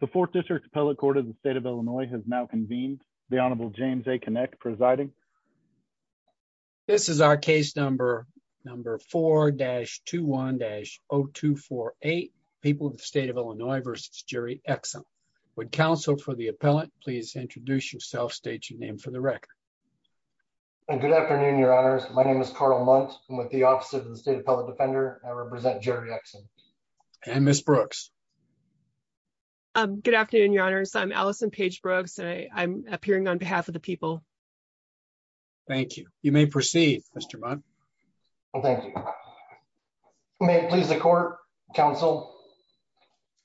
The Fourth District Appellate Court of the State of Illinois has now convened. The Honorable James A. Kinect presiding. This is our case number 4-21-0248, People of the State of Illinois v. Jerry Exum. Would counsel for the appellant please introduce yourself, state your name for the record. Good afternoon, your honors. My name is Carl Muntz. I'm with the Office of the State Appellate Defender. I represent Jerry Exum. And Ms. Brooks. Um, good afternoon, your honors. I'm Allison Page Brooks and I'm appearing on behalf of the people. Thank you. You may proceed, Mr. Muntz. Well, thank you. May it please the court, counsel.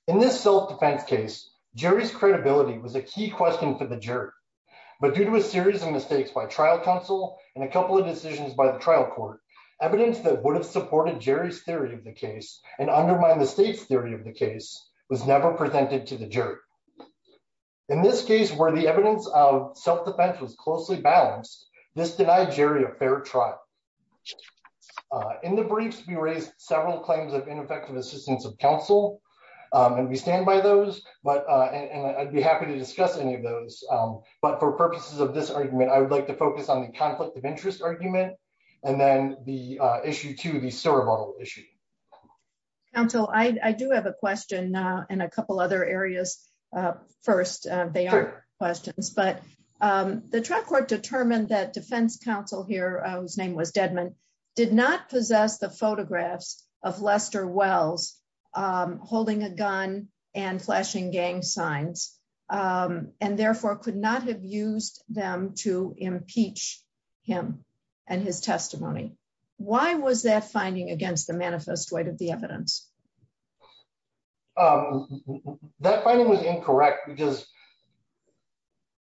In this self-defense case, Jerry's credibility was a key question for the jury. But due to a series of mistakes by trial counsel and a couple of decisions by the trial court, evidence that would have supported Jerry's theory of the case and undermine the state's case was never presented to the jury. In this case, where the evidence of self-defense was closely balanced, this denied Jerry a fair trial. In the briefs, we raised several claims of ineffective assistance of counsel. And we stand by those, but, and I'd be happy to discuss any of those. But for purposes of this argument, I would like to focus on the conflict of interest argument and then the issue to the cerebral issue. Counsel, I do have a question now and a couple other areas. First, they are questions, but the trial court determined that defense counsel here, whose name was Deadman, did not possess the photographs of Lester Wells, holding a gun and flashing gang signs, and therefore could not have used them to impeach him and his testimony. Why was that finding against the manifest weight of the evidence? That finding was incorrect because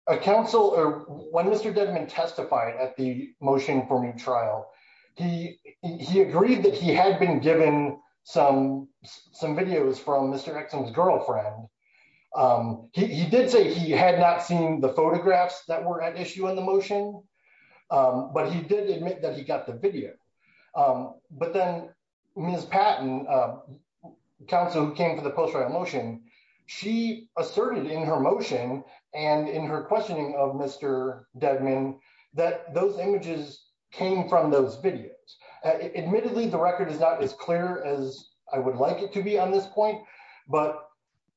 when Mr. Deadman testified at the motion-forming trial, he agreed that he had been given some videos from Mr. Exum's girlfriend. He did say he had not seen the photographs that were at issue in the motion. But he did admit that he got the video. But then Ms. Patton, counsel who came to the post-trial motion, she asserted in her motion and in her questioning of Mr. Deadman, that those images came from those videos. Admittedly, the record is not as clear as I would like it to be on this point. But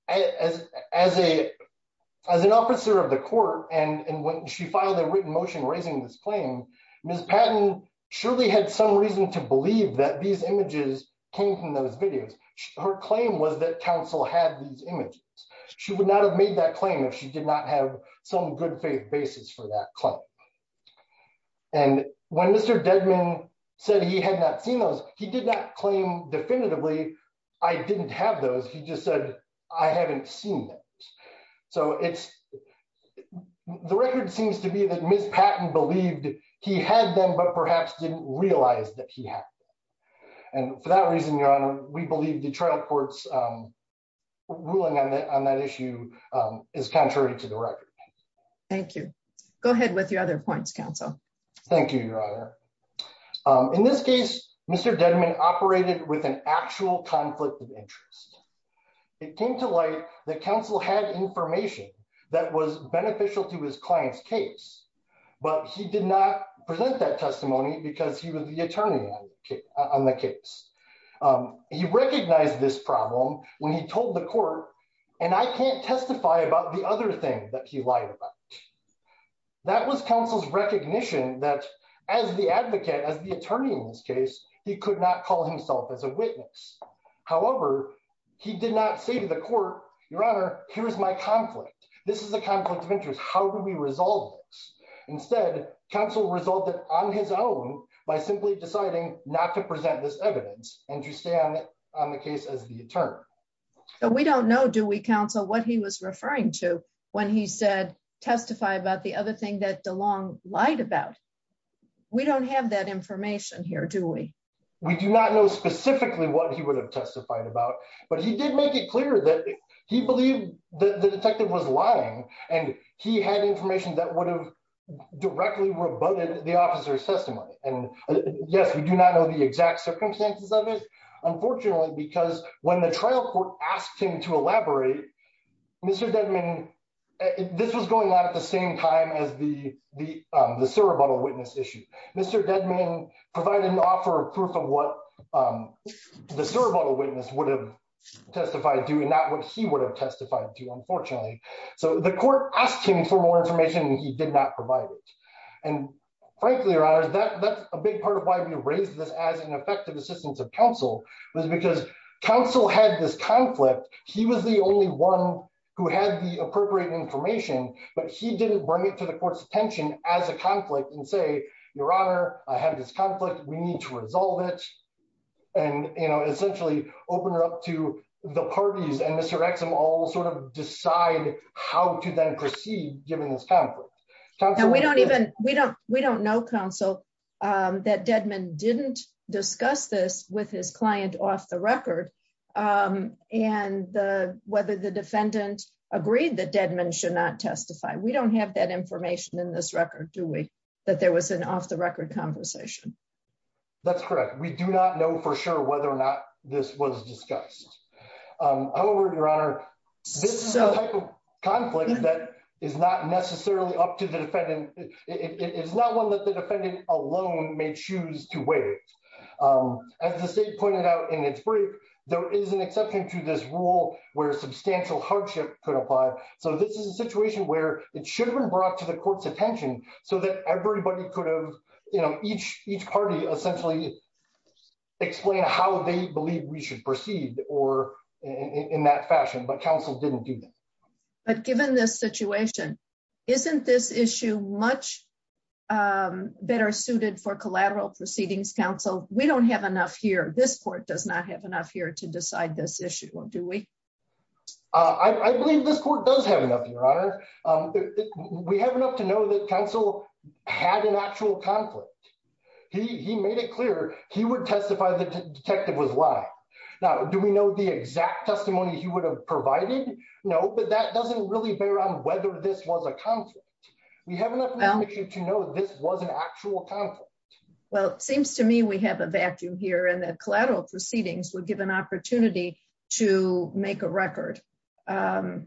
as an officer of the court, and when she filed a written motion raising this claim, Ms. Patton surely had some reason to believe that these images came from those videos. Her claim was that counsel had these images. She would not have made that claim if she did not have some good faith basis for that claim. And when Mr. Deadman said he had not seen those, he did not claim definitively, I didn't have those. He just said, I haven't seen them. So the record seems to be that Ms. Patton believed he had them, but perhaps didn't realize that he had them. And for that reason, Your Honor, we believe the trial court's ruling on that issue is contrary to the record. Thank you. Go ahead with your other points, counsel. Thank you, Your Honor. In this case, Mr. Deadman operated with an actual conflict of interest. It came to light that counsel had information that was beneficial to his client's case, but he did not present that testimony because he was the attorney on the case. He recognized this problem when he told the court, and I can't testify about the other thing that he lied about. That was counsel's recognition that as the advocate, as the attorney in this case, he could not call himself as a witness. However, he did not say to the court, Your Honor, here's my conflict. This is a conflict of interest. How do we resolve this? Instead, counsel resulted on his own by simply deciding not to present this evidence and to stay on the case as the attorney. We don't know, do we, counsel, what he was referring to when he said testify about the other thing that DeLong lied about. We don't have that information here, do we? We do not know specifically what he would have testified about, but he did make it clear that he believed that the detective was lying and he had information that would have directly rebutted the officer's testimony. Yes, we do not know the exact circumstances of it, unfortunately, because when the trial court asked him to elaborate, Mr. Dedman, this was going on at the same time as the Cerebuttal Witness issue. Mr. Dedman provided an offer of proof of what the Cerebuttal Witness would have testified to and not what he would have testified to, unfortunately. So the court asked him for more information and he did not provide it. And frankly, Your Honor, that's a big part of why we raised this as an effective assistance of counsel, was because counsel had this conflict. He was the only one who had the appropriate information, but he didn't bring it to the court's attention as a conflict and say, Your Honor, I have this conflict, we need to resolve it. And, you know, essentially open it up to the parties and Mr. Exum all sort of decide how to then proceed, given this conflict. We don't know, counsel, that Dedman didn't discuss this with his client off the record and whether the defendant agreed that Dedman should not testify. We don't have that information in this record, do we, that there was an off the record conversation? That's correct. We do not know for sure whether or not this was discussed. However, Your Honor, this is a type of conflict that is not necessarily up to the defendant. It's not one that the defendant alone may choose to weigh. As the state pointed out in its brief, there is an exception to this rule where substantial hardship could apply. So this is a situation where it should have been brought to the court's attention so that everybody could have, you know, each party essentially explain how they believe we should proceed or in that fashion, but counsel didn't do that. But given this situation, isn't this issue much better suited for collateral proceedings, counsel? We don't have enough here. This court does not have enough here to decide this issue, do we? I believe this court does have enough, Your Honor. We have enough to know that counsel had an actual conflict. He made it clear he would testify the detective was lying. Now, do we know the exact testimony he would have provided? No, but that doesn't really bear on whether this was a conflict. We have enough information to know this was an actual conflict. Well, it seems to me we have a vacuum here and that collateral proceedings would give an opportunity to make a record. But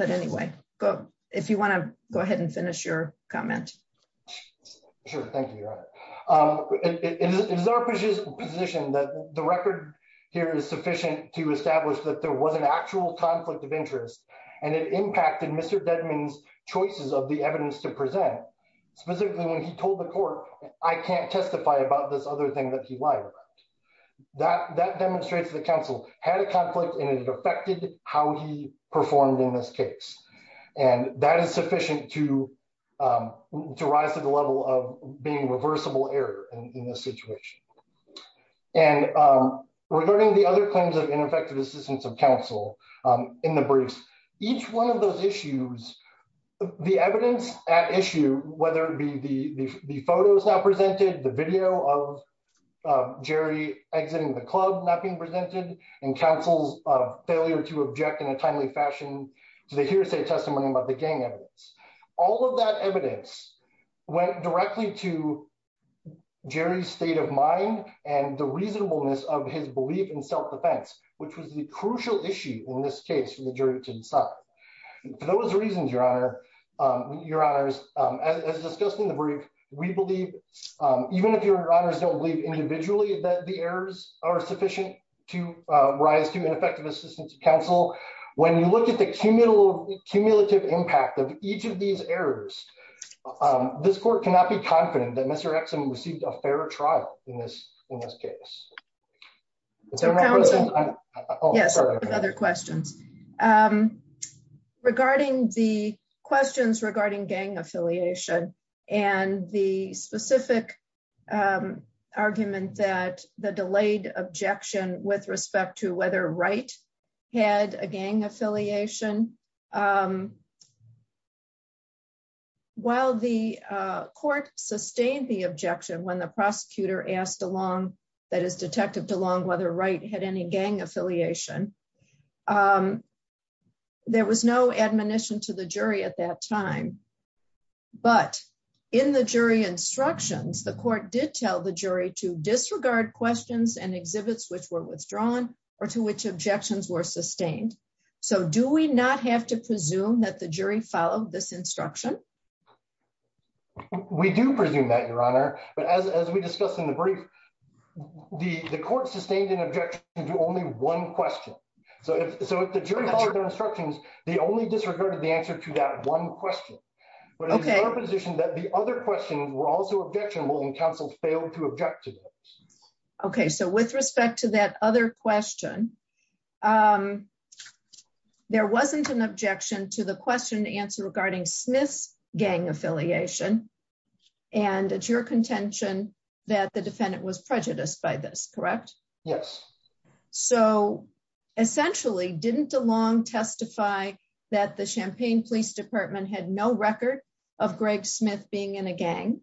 anyway, if you want to go ahead and finish your comment. Sure, thank you, Your Honor. It is our position that the record here is sufficient to establish that there was an actual conflict of interest and it impacted Mr. Dedman's choices of the evidence to present. Specifically, when he told the court, I can't testify about this other thing that he how he performed in this case. And that is sufficient to rise to the level of being reversible error in this situation. And regarding the other claims of ineffective assistance of counsel in the briefs, each one of those issues, the evidence at issue, whether it be the photos now presented, the video of Jerry exiting the club not being presented and counsel's failure to object in a timely fashion to the hearsay testimony about the gang evidence. All of that evidence went directly to Jerry's state of mind and the reasonableness of his belief in self-defense, which was the crucial issue in this case for the jury to decide. For those reasons, Your Honor, Your Honors, as discussed in the brief, we believe, even if Your Honors don't believe individually that the errors are sufficient to rise to an effective assistance of counsel, when you look at the cumulative impact of each of these errors, this court cannot be confident that Mr. Exum received a fair trial in this case. Yes, I have other questions. Regarding the questions regarding gang affiliation and the specific argument that the delayed objection with respect to whether Wright had a gang affiliation, while the court sustained the objection when the prosecutor asked along, that is, there was no admonition to the jury at that time, but in the jury instructions, the court did tell the jury to disregard questions and exhibits which were withdrawn or to which objections were sustained. So, do we not have to presume that the jury followed this instruction? We do presume that, Your Honor, but as we discussed in the brief, the court sustained an objection to only one question. So, if the jury followed their instructions, they only disregarded the answer to that one question, but it is our position that the other questions were also objectionable and counsel failed to object to them. Okay, so with respect to that other question, there wasn't an objection to the question and answer Smith's gang affiliation and it's your contention that the defendant was prejudiced by this, correct? Yes. So, essentially, didn't DeLong testify that the Champaign Police Department had no record of Greg Smith being in a gang?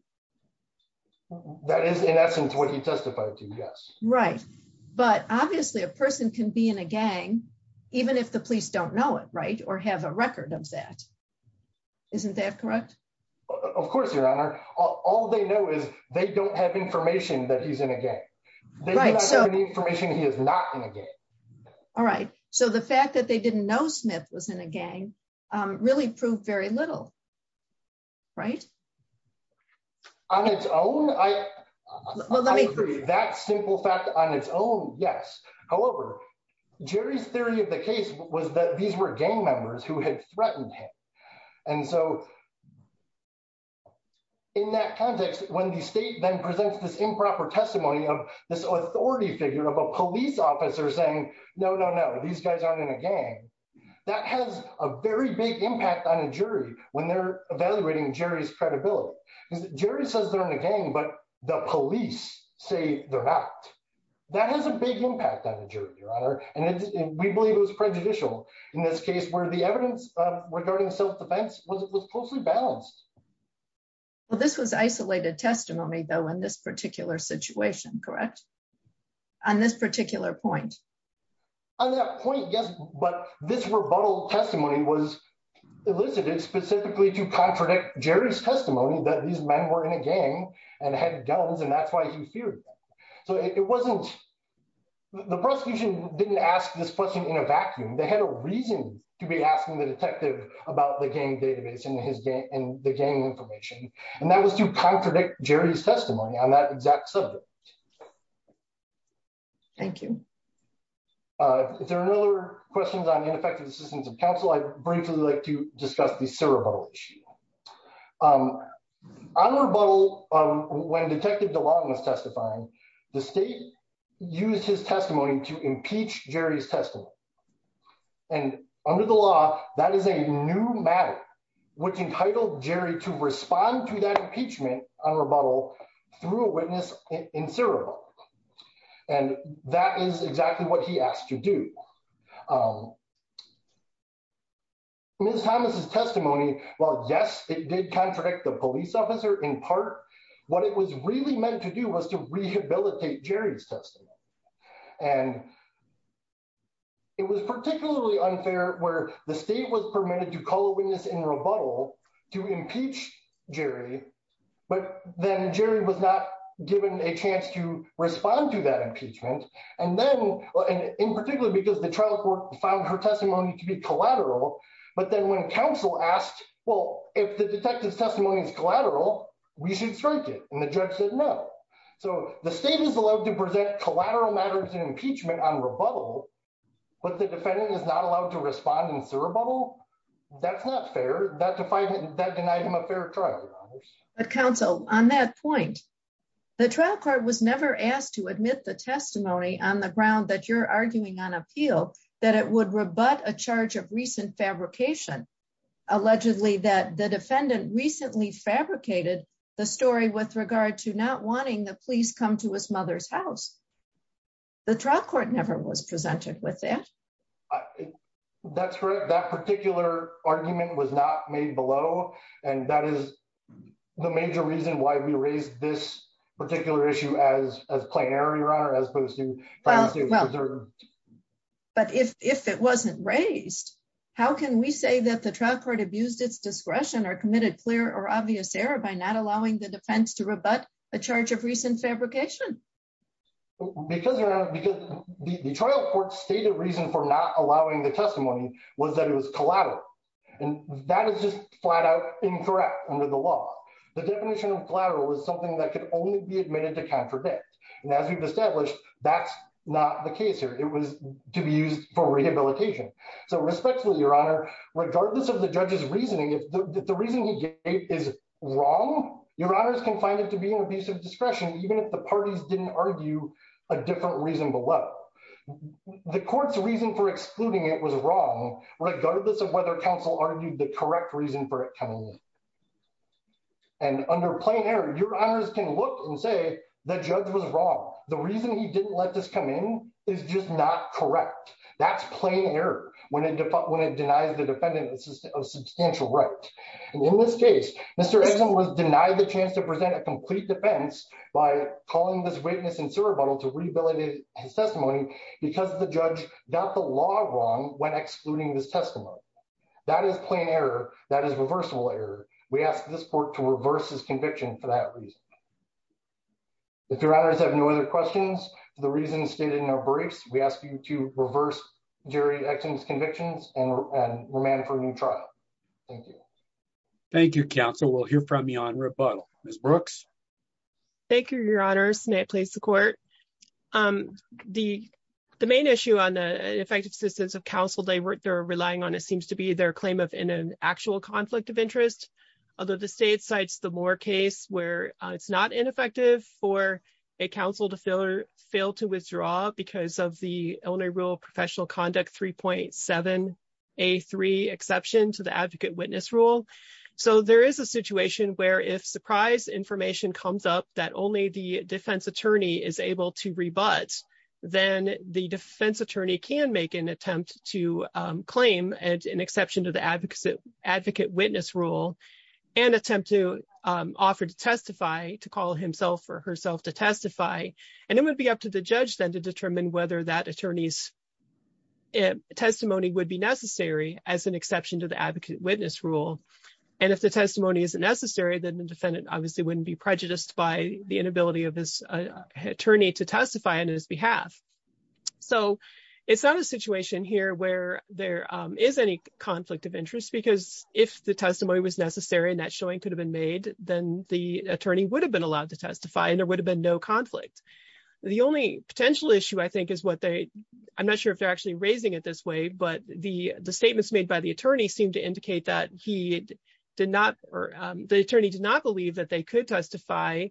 That is, in essence, what he testified to, yes. Right, but obviously a person can be in a gang even if the police don't know it, right, or have a record of that. Isn't that correct? Of course, Your Honor. All they know is they don't have information that he's in a gang. They do not have any information he is not in a gang. All right, so the fact that they didn't know Smith was in a gang really proved very little, right? On its own, I agree. That simple fact on its own, yes. However, Jerry's theory of the case was that these were gang members who had threatened him and so in that context, when the state then presents this improper testimony of this authority figure of a police officer saying, no, no, no, these guys aren't in a gang, that has a very big impact on a jury when they're evaluating Jerry's credibility because Jerry says they're in a gang but the police say they're not. That has a big impact on the jury, Your Honor, and we believe it was prejudicial in this case where the evidence regarding self-defense was closely balanced. Well, this was isolated testimony though in this particular situation, correct? On this particular point? On that point, yes, but this rebuttal testimony was elicited specifically to contradict Jerry's testimony that these men were in a gang and had guns and that's why he feared them. So it wasn't, the prosecution didn't ask this question in a vacuum. They had a reason to be asking the detective about the gang database and the gang information and that was to contradict Jerry's testimony on that exact subject. Thank you. If there are no other questions on ineffective assistance of counsel, I'd briefly like to discuss the CIRA rebuttal issue. On rebuttal, when Detective DeLong was testifying, the state used his testimony to impeach Jerry's testimony and under the law that is a new matter which entitled Jerry to respond to that impeachment on rebuttal through a witness in CIRA and that is exactly what he asked to do. Ms. Thomas's testimony, while yes, it did contradict the police officer in part, what it was really meant to do was to rehabilitate Jerry's testimony and it was particularly unfair where the state was permitted to call a witness in rebuttal to impeach Jerry, but then Jerry was not given a chance to respond to that impeachment and then, in particular because the trial court found her testimony to be collateral, but then when counsel asked, well, if the detective's testimony is collateral, we should strike it and the judge said no. So the state is allowed to present collateral matters in impeachment on rebuttal, but the defendant is not allowed to respond in CIRA that's not fair, that denied him a fair trial. But counsel, on that point, the trial court was never asked to admit the testimony on the ground that you're arguing on appeal that it would rebut a charge of recent fabrication, allegedly that the defendant recently fabricated the story with regard to not wanting the police come to his mother's house. The trial court never was presented with that. That's correct. That particular argument was not made below and that is the major reason why we raised this particular issue as a plain error, your honor, as opposed to But if it wasn't raised, how can we say that the trial court abused its discretion or committed clear or obvious error by not allowing the defense to rebut a charge of recent fabrication? Because the trial court stated reason for not allowing the testimony was that it was collateral and that is just flat out incorrect under the law. The definition of collateral is something that could only be admitted to contradict. And as we've established, that's not the case here. It was to be used for rehabilitation. So respectfully, your honor, regardless of the judge's reasoning, if the reason he gave is wrong, your honors can find it to be an abuse of discretion, even if the parties didn't argue a different reason below. The court's reason for excluding it was wrong, regardless of whether counsel argued the correct reason for it coming in. And under plain error, your honors can look and say, the judge was wrong. The reason he didn't let this come in is just not correct. That's plain error when it denies the defendant a substantial right. And in this case, Mr. Exum was denied the chance to present a complete defense by calling this witness in surreptitiously to rehabilitate his testimony because the judge got the law wrong when excluding this testimony. That is plain error. That is reversible error. We ask this court to reverse his conviction for that reason. If your honors have no other questions for the reasons stated in our briefs, we ask you to reverse Jerry Exum's convictions and remand for a new trial. Thank you. Thank you, counsel. We'll hear from you on rebuttal. Ms. Brooks. Thank you, your honors. May it please the court. The main issue on the effective assistance of counsel they're relying on, it seems to be their claim of an actual conflict of interest. Although the state cites the Moore case where it's not ineffective for a counsel to fail to So there is a situation where if surprise information comes up that only the defense attorney is able to rebut, then the defense attorney can make an attempt to claim an exception to the advocate witness rule and attempt to offer to testify, to call himself or herself to testify. And it would be up to the judge then to determine whether that attorney's as an exception to the advocate witness rule. And if the testimony isn't necessary, then the defendant obviously wouldn't be prejudiced by the inability of this attorney to testify on his behalf. So it's not a situation here where there is any conflict of interest, because if the testimony was necessary and that showing could have been made, then the attorney would have been allowed to testify and there would have been no conflict. The only potential issue I think is what they, I'm not sure if they're actually raising it this way, but the statements made by the attorney seemed to indicate that he did not or the attorney did not believe that they could testify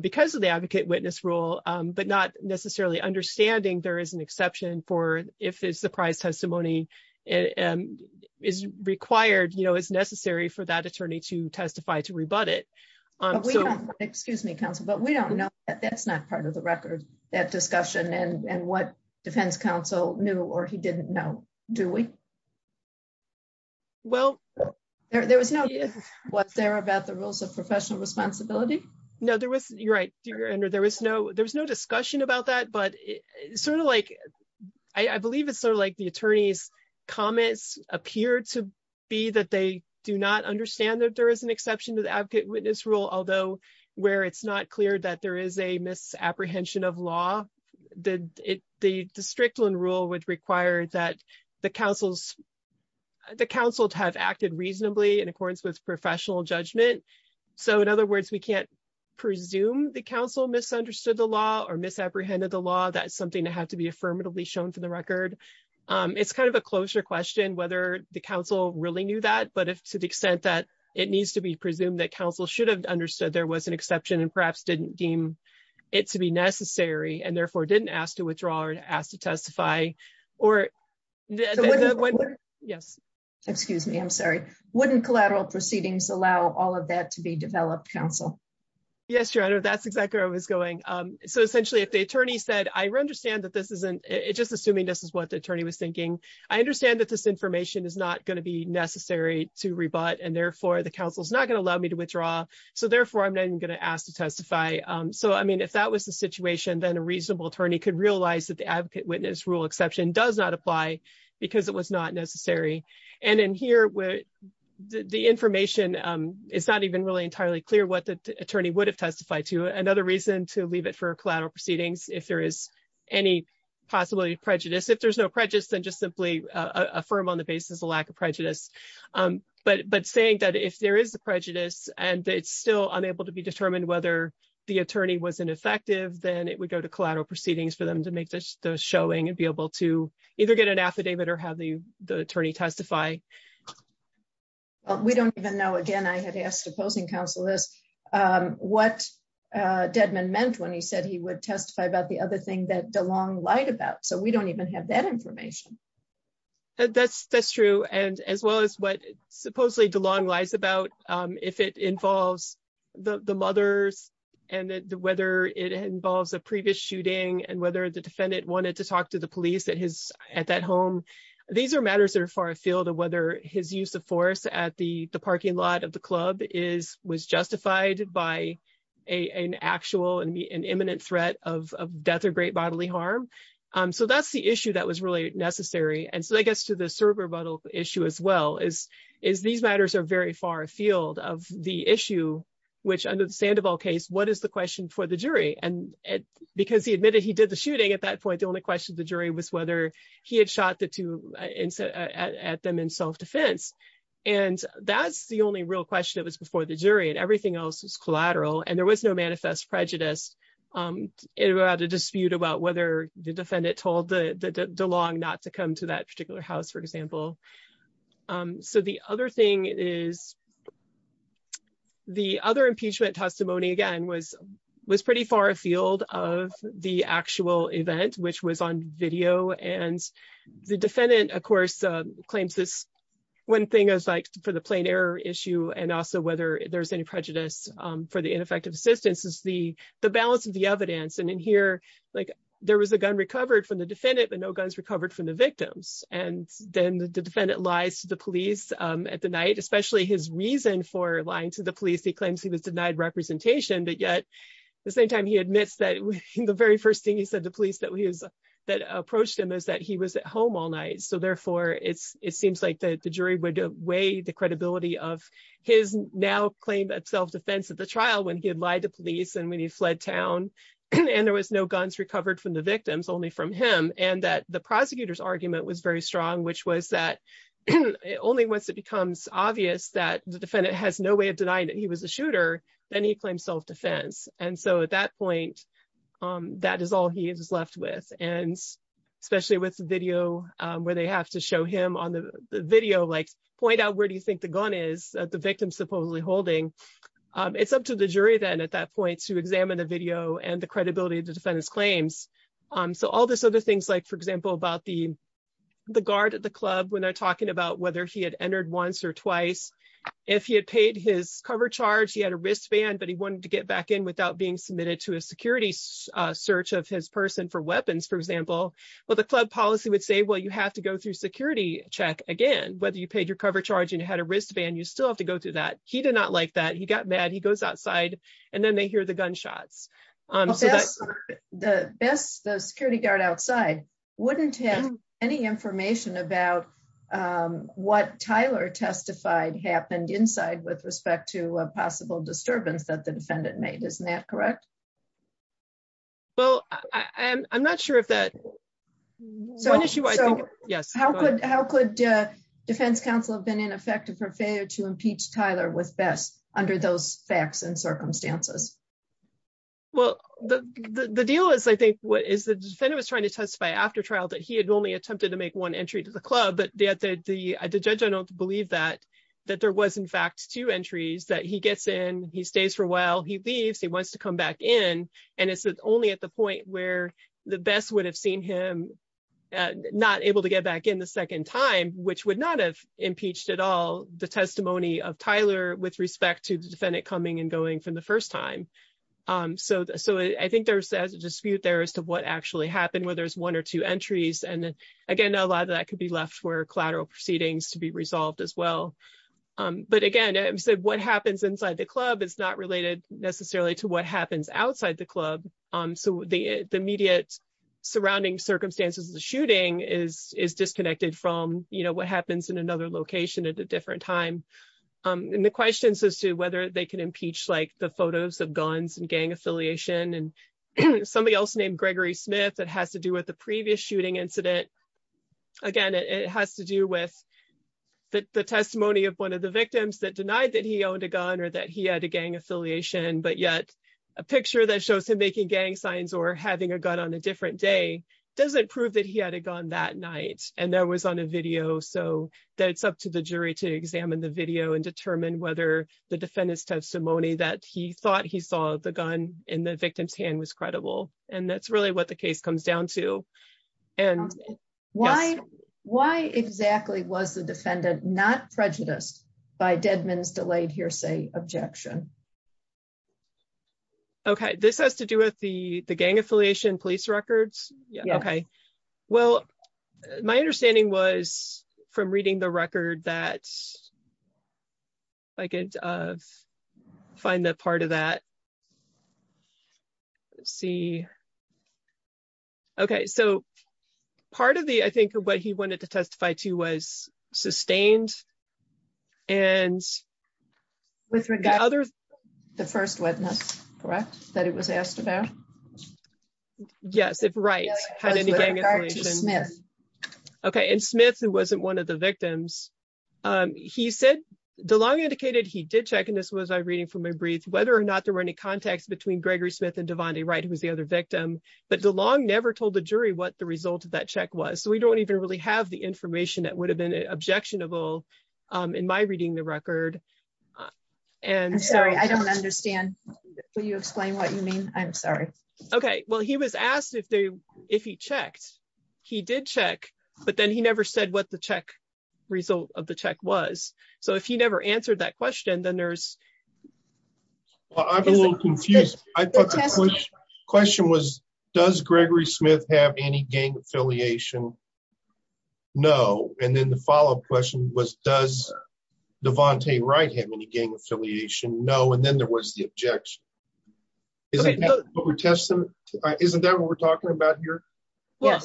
because of the advocate witness rule, but not necessarily understanding there is an exception for if it's the prize testimony and is required, you know, is necessary for that attorney to testify to rebut it. Excuse me, counsel, but we don't know that that's not part of the record that discussion and what defense counsel knew or he didn't know, do we? Well, there was no, was there about the rules of professional responsibility? No, there was, you're right, there was no discussion about that, but sort of like, I believe it's sort of like the attorney's comments appear to be that they do not understand that there is an exception to the advocate witness rule, although where it's not that there is a misapprehension of law, the Strickland rule would require that the counsels, the counsel to have acted reasonably in accordance with professional judgment. So in other words, we can't presume the counsel misunderstood the law or misapprehended the law, that's something to have to be affirmatively shown for the record. It's kind of a closer question whether the counsel really knew that, but if to the extent that it needs to be presumed that counsel should have understood there was an exception and perhaps didn't deem it to be necessary and therefore didn't ask to withdraw or to ask to testify or yes. Excuse me, I'm sorry, wouldn't collateral proceedings allow all of that to be developed counsel? Yes, your honor, that's exactly where I was going. So essentially, if the attorney said, I understand that this isn't it just assuming this is what the attorney was thinking. I understand that this information is not going to be necessary to rebut and therefore the counsel is not going to allow me to withdraw. So therefore, I'm not even going to ask to testify. So I mean, if that was the situation, then a reasonable attorney could realize that the advocate witness rule exception does not apply because it was not necessary. And in here where the information is not even really entirely clear what the attorney would have testified to another reason to leave it for collateral proceedings, if there is any possibility of prejudice, if there's no prejudice, then just simply affirm on the basis of lack of prejudice. But but saying that if there is a prejudice, and it's still unable to be determined whether the attorney wasn't effective, then it would go to collateral proceedings for them to make those showing and be able to either get an affidavit or have the the attorney testify. We don't even know again, I had asked opposing counsel is what Deadman meant when he said he would testify about the other thing that Delong lied about. So we don't even have that information. And that's that's true. And as well as what supposedly Delong lies about, if it involves the mothers, and whether it involves a previous shooting, and whether the defendant wanted to talk to the police that his at that home, these are matters that are far afield of whether his use of force at the parking lot of the club is was justified by an actual and imminent threat of death or great bodily harm. So that's the issue that was really necessary. And so I guess to the server model issue as well is, is these matters are very far afield of the issue, which under the Sandoval case, what is the question for the jury? And because he admitted he did the shooting. At that point, the only question the jury was whether he had shot the two at them in self-defense. And that's the only real question. It was before the jury and everything else was collateral. And there was no manifest prejudice. It had a dispute about whether the defendant told the Delong not to come to that particular house, for example. So the other thing is the other impeachment testimony, again, was was pretty far afield of the actual event, which was on video. And the defendant, of course, claims this one thing is like for the plain error issue, and also whether there's any prejudice for the ineffective assistance is the the balance of the evidence. And in here, like there was a gun recovered from the defendant, but no guns recovered from the victims. And then the defendant lies to the police at the night, especially his reason for lying to the police. He claims he was denied representation. But yet the same time he admits that the very first thing he said to police that he is that approached him is that he was at home all night. So therefore, it's it seems like the jury would weigh the credibility of his now claim that self-defense at the trial when he had lied to police and when he fled town and there was no guns recovered from the victims, only from him and that the prosecutor's argument was very strong, which was that only once it becomes obvious that the defendant has no way of denying that he was a shooter, then he claims self-defense. And so at that point, that is all he is left with. And especially with the video where they have to show him on the video, like point out where do you think the gun is that the victim supposedly holding? It's up to the jury then at that point to examine the video and the credibility of the defendant's claims. So all this other things like, for example, about the the guard at the club when they're talking about whether he had entered once or twice, if he had paid his cover charge, he had a wristband, but he wanted to get back in without being submitted to a security search of his person for weapons, for example. Well, the club policy would say, well, you have to go through security check again, whether you paid your cover charge and had a wristband, you still have to go through that. He did not like that. He got mad. He goes outside and then they hear the gunshots. The best, the security guard outside wouldn't have any information about what Tyler testified happened inside with respect to a possible disturbance that the defendant made. Isn't that correct? Well, I'm not sure if that so. So, yes, how could how could defense counsel have been ineffective for failure to impeach Tyler with best under those facts and circumstances? Well, the deal is, I think, what is the defendant was trying to testify after trial that he had only attempted to make one entry to the club, but the judge don't believe that that there was, in fact, two entries that he gets in. He stays for a while. He leaves. He wants to come back in. And it's only at the point where the best would have seen him not able to get back in the second time, which would not have impeached at all the testimony of Tyler with respect to the defendant coming and going from the first time. So so I think there's a dispute there as to what actually happened, whether it's one or two entries. And again, a lot of that could be left for collateral proceedings to be resolved as well. But again, what happens inside the club is not related necessarily to what happens outside the club. So the immediate surrounding circumstances of the shooting is is disconnected from what happens in another location at a different time. And the questions as to whether they can impeach like the photos of guns and gang affiliation and somebody else named Gregory Smith that has to do with the previous shooting incident. Again, it has to do with the testimony of one of the victims that denied that he owned a gun or that he had a gang affiliation. But yet a picture that shows him making gang signs or having a gun on a different day doesn't prove that he had a gun that night. And that was on a video. So that's up to the jury to examine the video and determine whether the defendant's testimony that he thought he saw the gun in the victim's hand was credible. And that's really what the case comes down to. And why why exactly was the defendant not prejudiced by Deadman's delayed hearsay objection? OK, this has to do with the gang affiliation police records. OK, well, my understanding was from reading the record that. I could find that part of that. Let's see. OK, so part of the I think what he wanted to testify to was sustained. And with regard to others, the first witness, correct, that it was asked about. Yes, it's right. OK, and Smith, who wasn't one of the victims, he said the law indicated he did check. This was a reading from a brief whether or not there were any contacts between Gregory Smith and Devante Wright, who was the other victim. But the law never told the jury what the result of that check was. So we don't even really have the information that would have been objectionable in my reading the record. And so I don't understand. Will you explain what you mean? I'm sorry. OK, well, he was asked if they if he checked, he did check. But then he never said what the check result of the check was. So if you never answered that question, then there's. Well, I'm a little confused. I thought the question was, does Gregory Smith have any gang affiliation? No. And then the follow up question was, does Devante Wright have any gang affiliation? No. And then there was the objection. Is it what we're testing? Isn't that what we're talking about here? Well,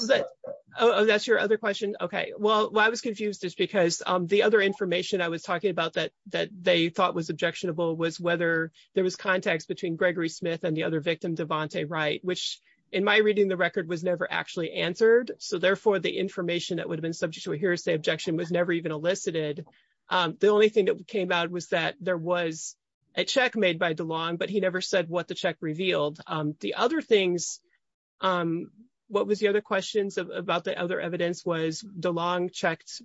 that's your other question. OK, well, I was confused just because the other information I was talking about that that they thought was objectionable was whether there was context between Gregory Smith and the other victim, Devante Wright, which in my reading, the record was never actually answered. So therefore, the information that would have been subject to a hearsay objection was never even elicited. The only thing that came out was that there was a check made by DeLong, but he never said what the check revealed. The other things, what was the other questions about? The other evidence was DeLong checked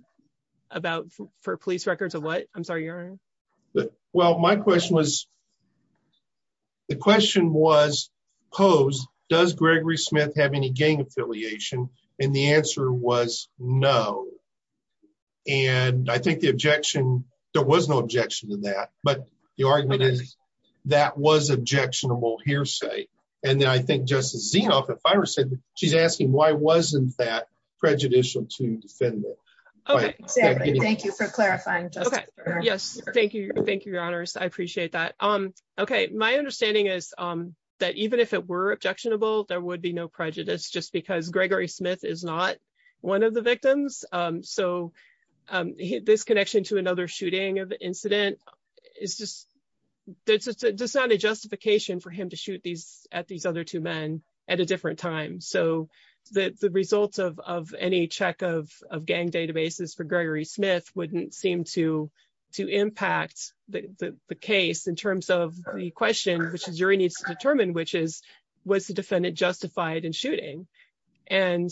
about for police records of what? I'm sorry. Well, my question was. The question was posed, does Gregory Smith have any gang affiliation? And the answer was no. And I think the objection, there was no objection to that, but the argument is that was objectionable and that I think Justice Zinoff, if I were said, she's asking why wasn't that prejudicial to defend? Thank you for clarifying. Yes, thank you. Thank you, Your Honors. I appreciate that. OK, my understanding is that even if it were objectionable, there would be no prejudice just because Gregory Smith is not one of the victims. So this connection to another shooting of the incident is just that's not a justification for him to shoot these at these other two men at a different time. So the results of any check of gang databases for Gregory Smith wouldn't seem to impact the case in terms of the question, which the jury needs to determine, which is was the defendant justified in shooting? And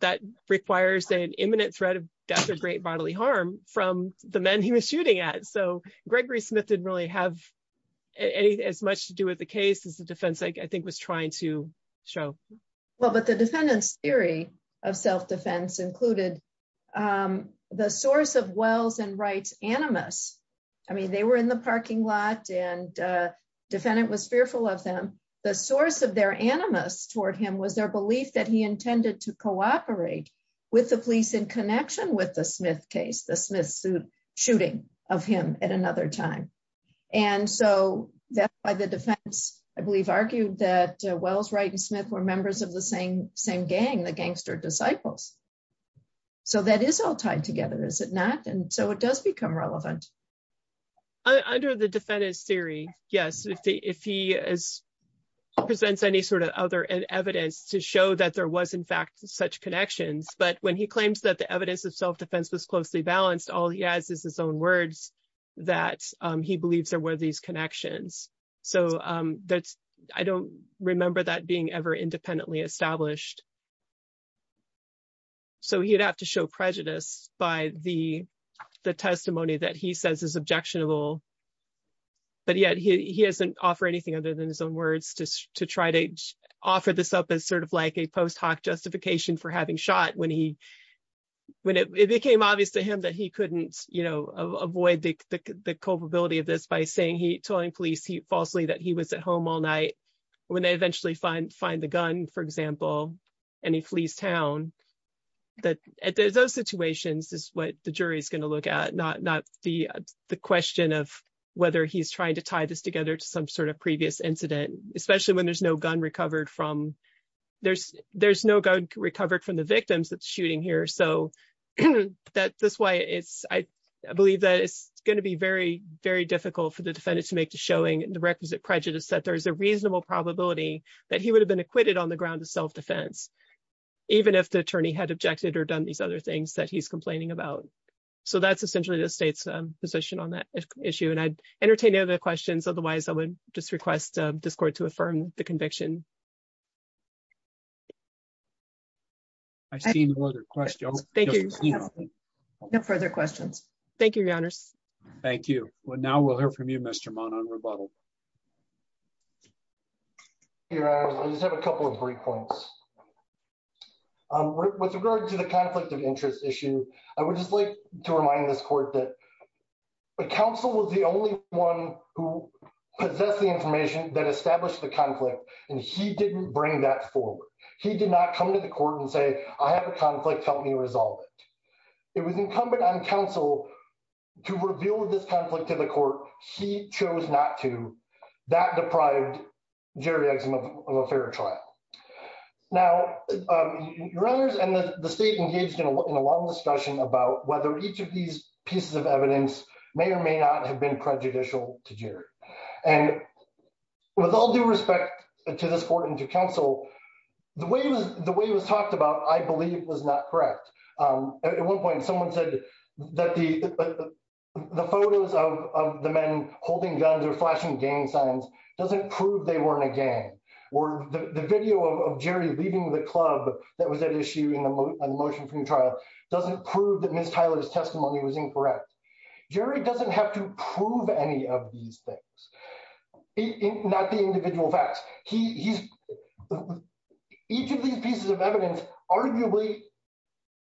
that requires an imminent threat of death or great bodily harm from the men he was shooting at. So Gregory Smith didn't really have as much to do with the case as the defense, I think, was trying to show. Well, but the defendant's theory of self-defense included the source of Wells and Wright's animus. I mean, they were in the parking lot and the defendant was fearful of them. The source of their animus toward him was their belief that he intended to cooperate with the police in connection with the Smith case, the Smith shooting of him at another time. And so that's why the defense, I believe, argued that Wells, Wright, and Smith were members of the same gang, the Gangster Disciples. So that is all tied together, is it not? And so it does become relevant. Under the defendant's theory, yes, if he presents any sort of other evidence to show that there was, in fact, such connections, but when he claims that the evidence of self-defense was closely balanced, all he has is his own words that he believes there were these connections. So I don't remember that being ever independently established. So he'd have to show prejudice by the testimony that he says is objectionable. But yet he doesn't offer anything other than his own words to try to offer this up as sort justification for having shot when it became obvious to him that he couldn't avoid the culpability of this by saying he told the police falsely that he was at home all night when they eventually find the gun, for example, and he flees town. At those situations is what the jury is going to look at, not the question of whether he's trying to tie this together to some sort of previous incident, especially when there's no gun recovered from the victims that's shooting here. So I believe that it's going to be very, very difficult for the defendant to make to showing the requisite prejudice that there is a reasonable probability that he would have been acquitted on the ground of self-defense, even if the attorney had objected or done these other things that he's complaining about. So that's essentially the state's position on that issue. And I'd entertain any other questions. Otherwise, I would just request this court to affirm the conviction. I see no other questions. Thank you. No further questions. Thank you, Your Honors. Thank you. Well, now we'll hear from you, Mr. Mon on rebuttal. Your Honor, I just have a couple of brief points. With regard to the conflict of interest issue, I would just like to remind this court that counsel was the only one who possessed the information that established the conflict, and he didn't bring that forward. He did not come to the court and say, I have a conflict. Help me resolve it. It was incumbent on counsel to reveal this conflict to the court. He chose not to. That deprived Jerry Exum of a fair trial. Now, Your Honors and the state engaged in a long discussion about whether each of these pieces of evidence may or may not have been prejudicial to Jerry. And with all due respect to this court and to counsel, the way it was talked about, I believe, was not correct. At one point, someone said that the photos of the men holding guns or flashing gang signs doesn't prove they weren't a gang, or the video of Jerry leaving the club that was at issue in the motion-free trial doesn't prove that Ms. Tyler's testimony was incorrect. Jerry doesn't have to prove any of these things, not the individual facts. Each of these pieces of evidence arguably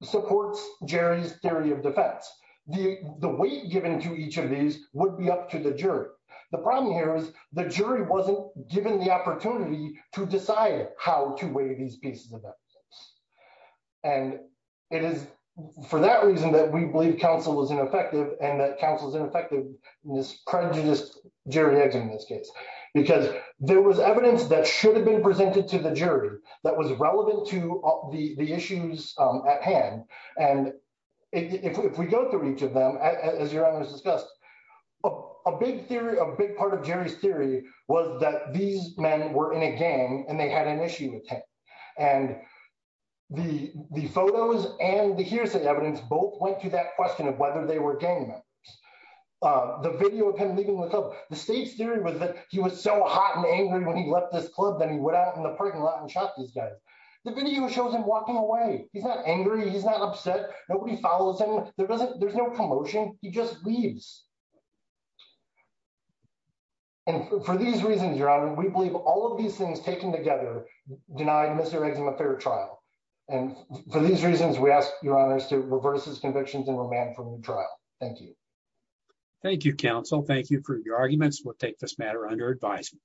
supports Jerry's theory of defense. The weight given to each of these would be up to the jury. The problem here is the jury wasn't given the opportunity to decide how to weigh these pieces of evidence. And it is for that reason that we believe counsel was ineffective and that counsel's ineffectiveness prejudiced Jerry Exum in this case. Because there was evidence that should have been presented to the jury that was relevant to the issues at hand. And if we go through each of them, as Your Honors discussed, a big part of Jerry's theory was that these men were in a gang and they had an issue with him. And the photos and the hearsay evidence both went to that question of whether they were gang members. The video of him leaving the club, the state's theory was that he was so hot and angry when he left this club that he went out in the parking lot and shot this guy. The video shows him walking away. He's not angry. He's not upset. Nobody follows him. There's no commotion. He just leaves. And for these reasons, Your Honor, we believe all of these things taken together denied Mr. Exum a fair trial. And for these reasons, we ask Your Honors to reverse his convictions and remand for new trial. Thank you. Thank you, counsel. Thank you for your arguments. We'll take this matter under advisement.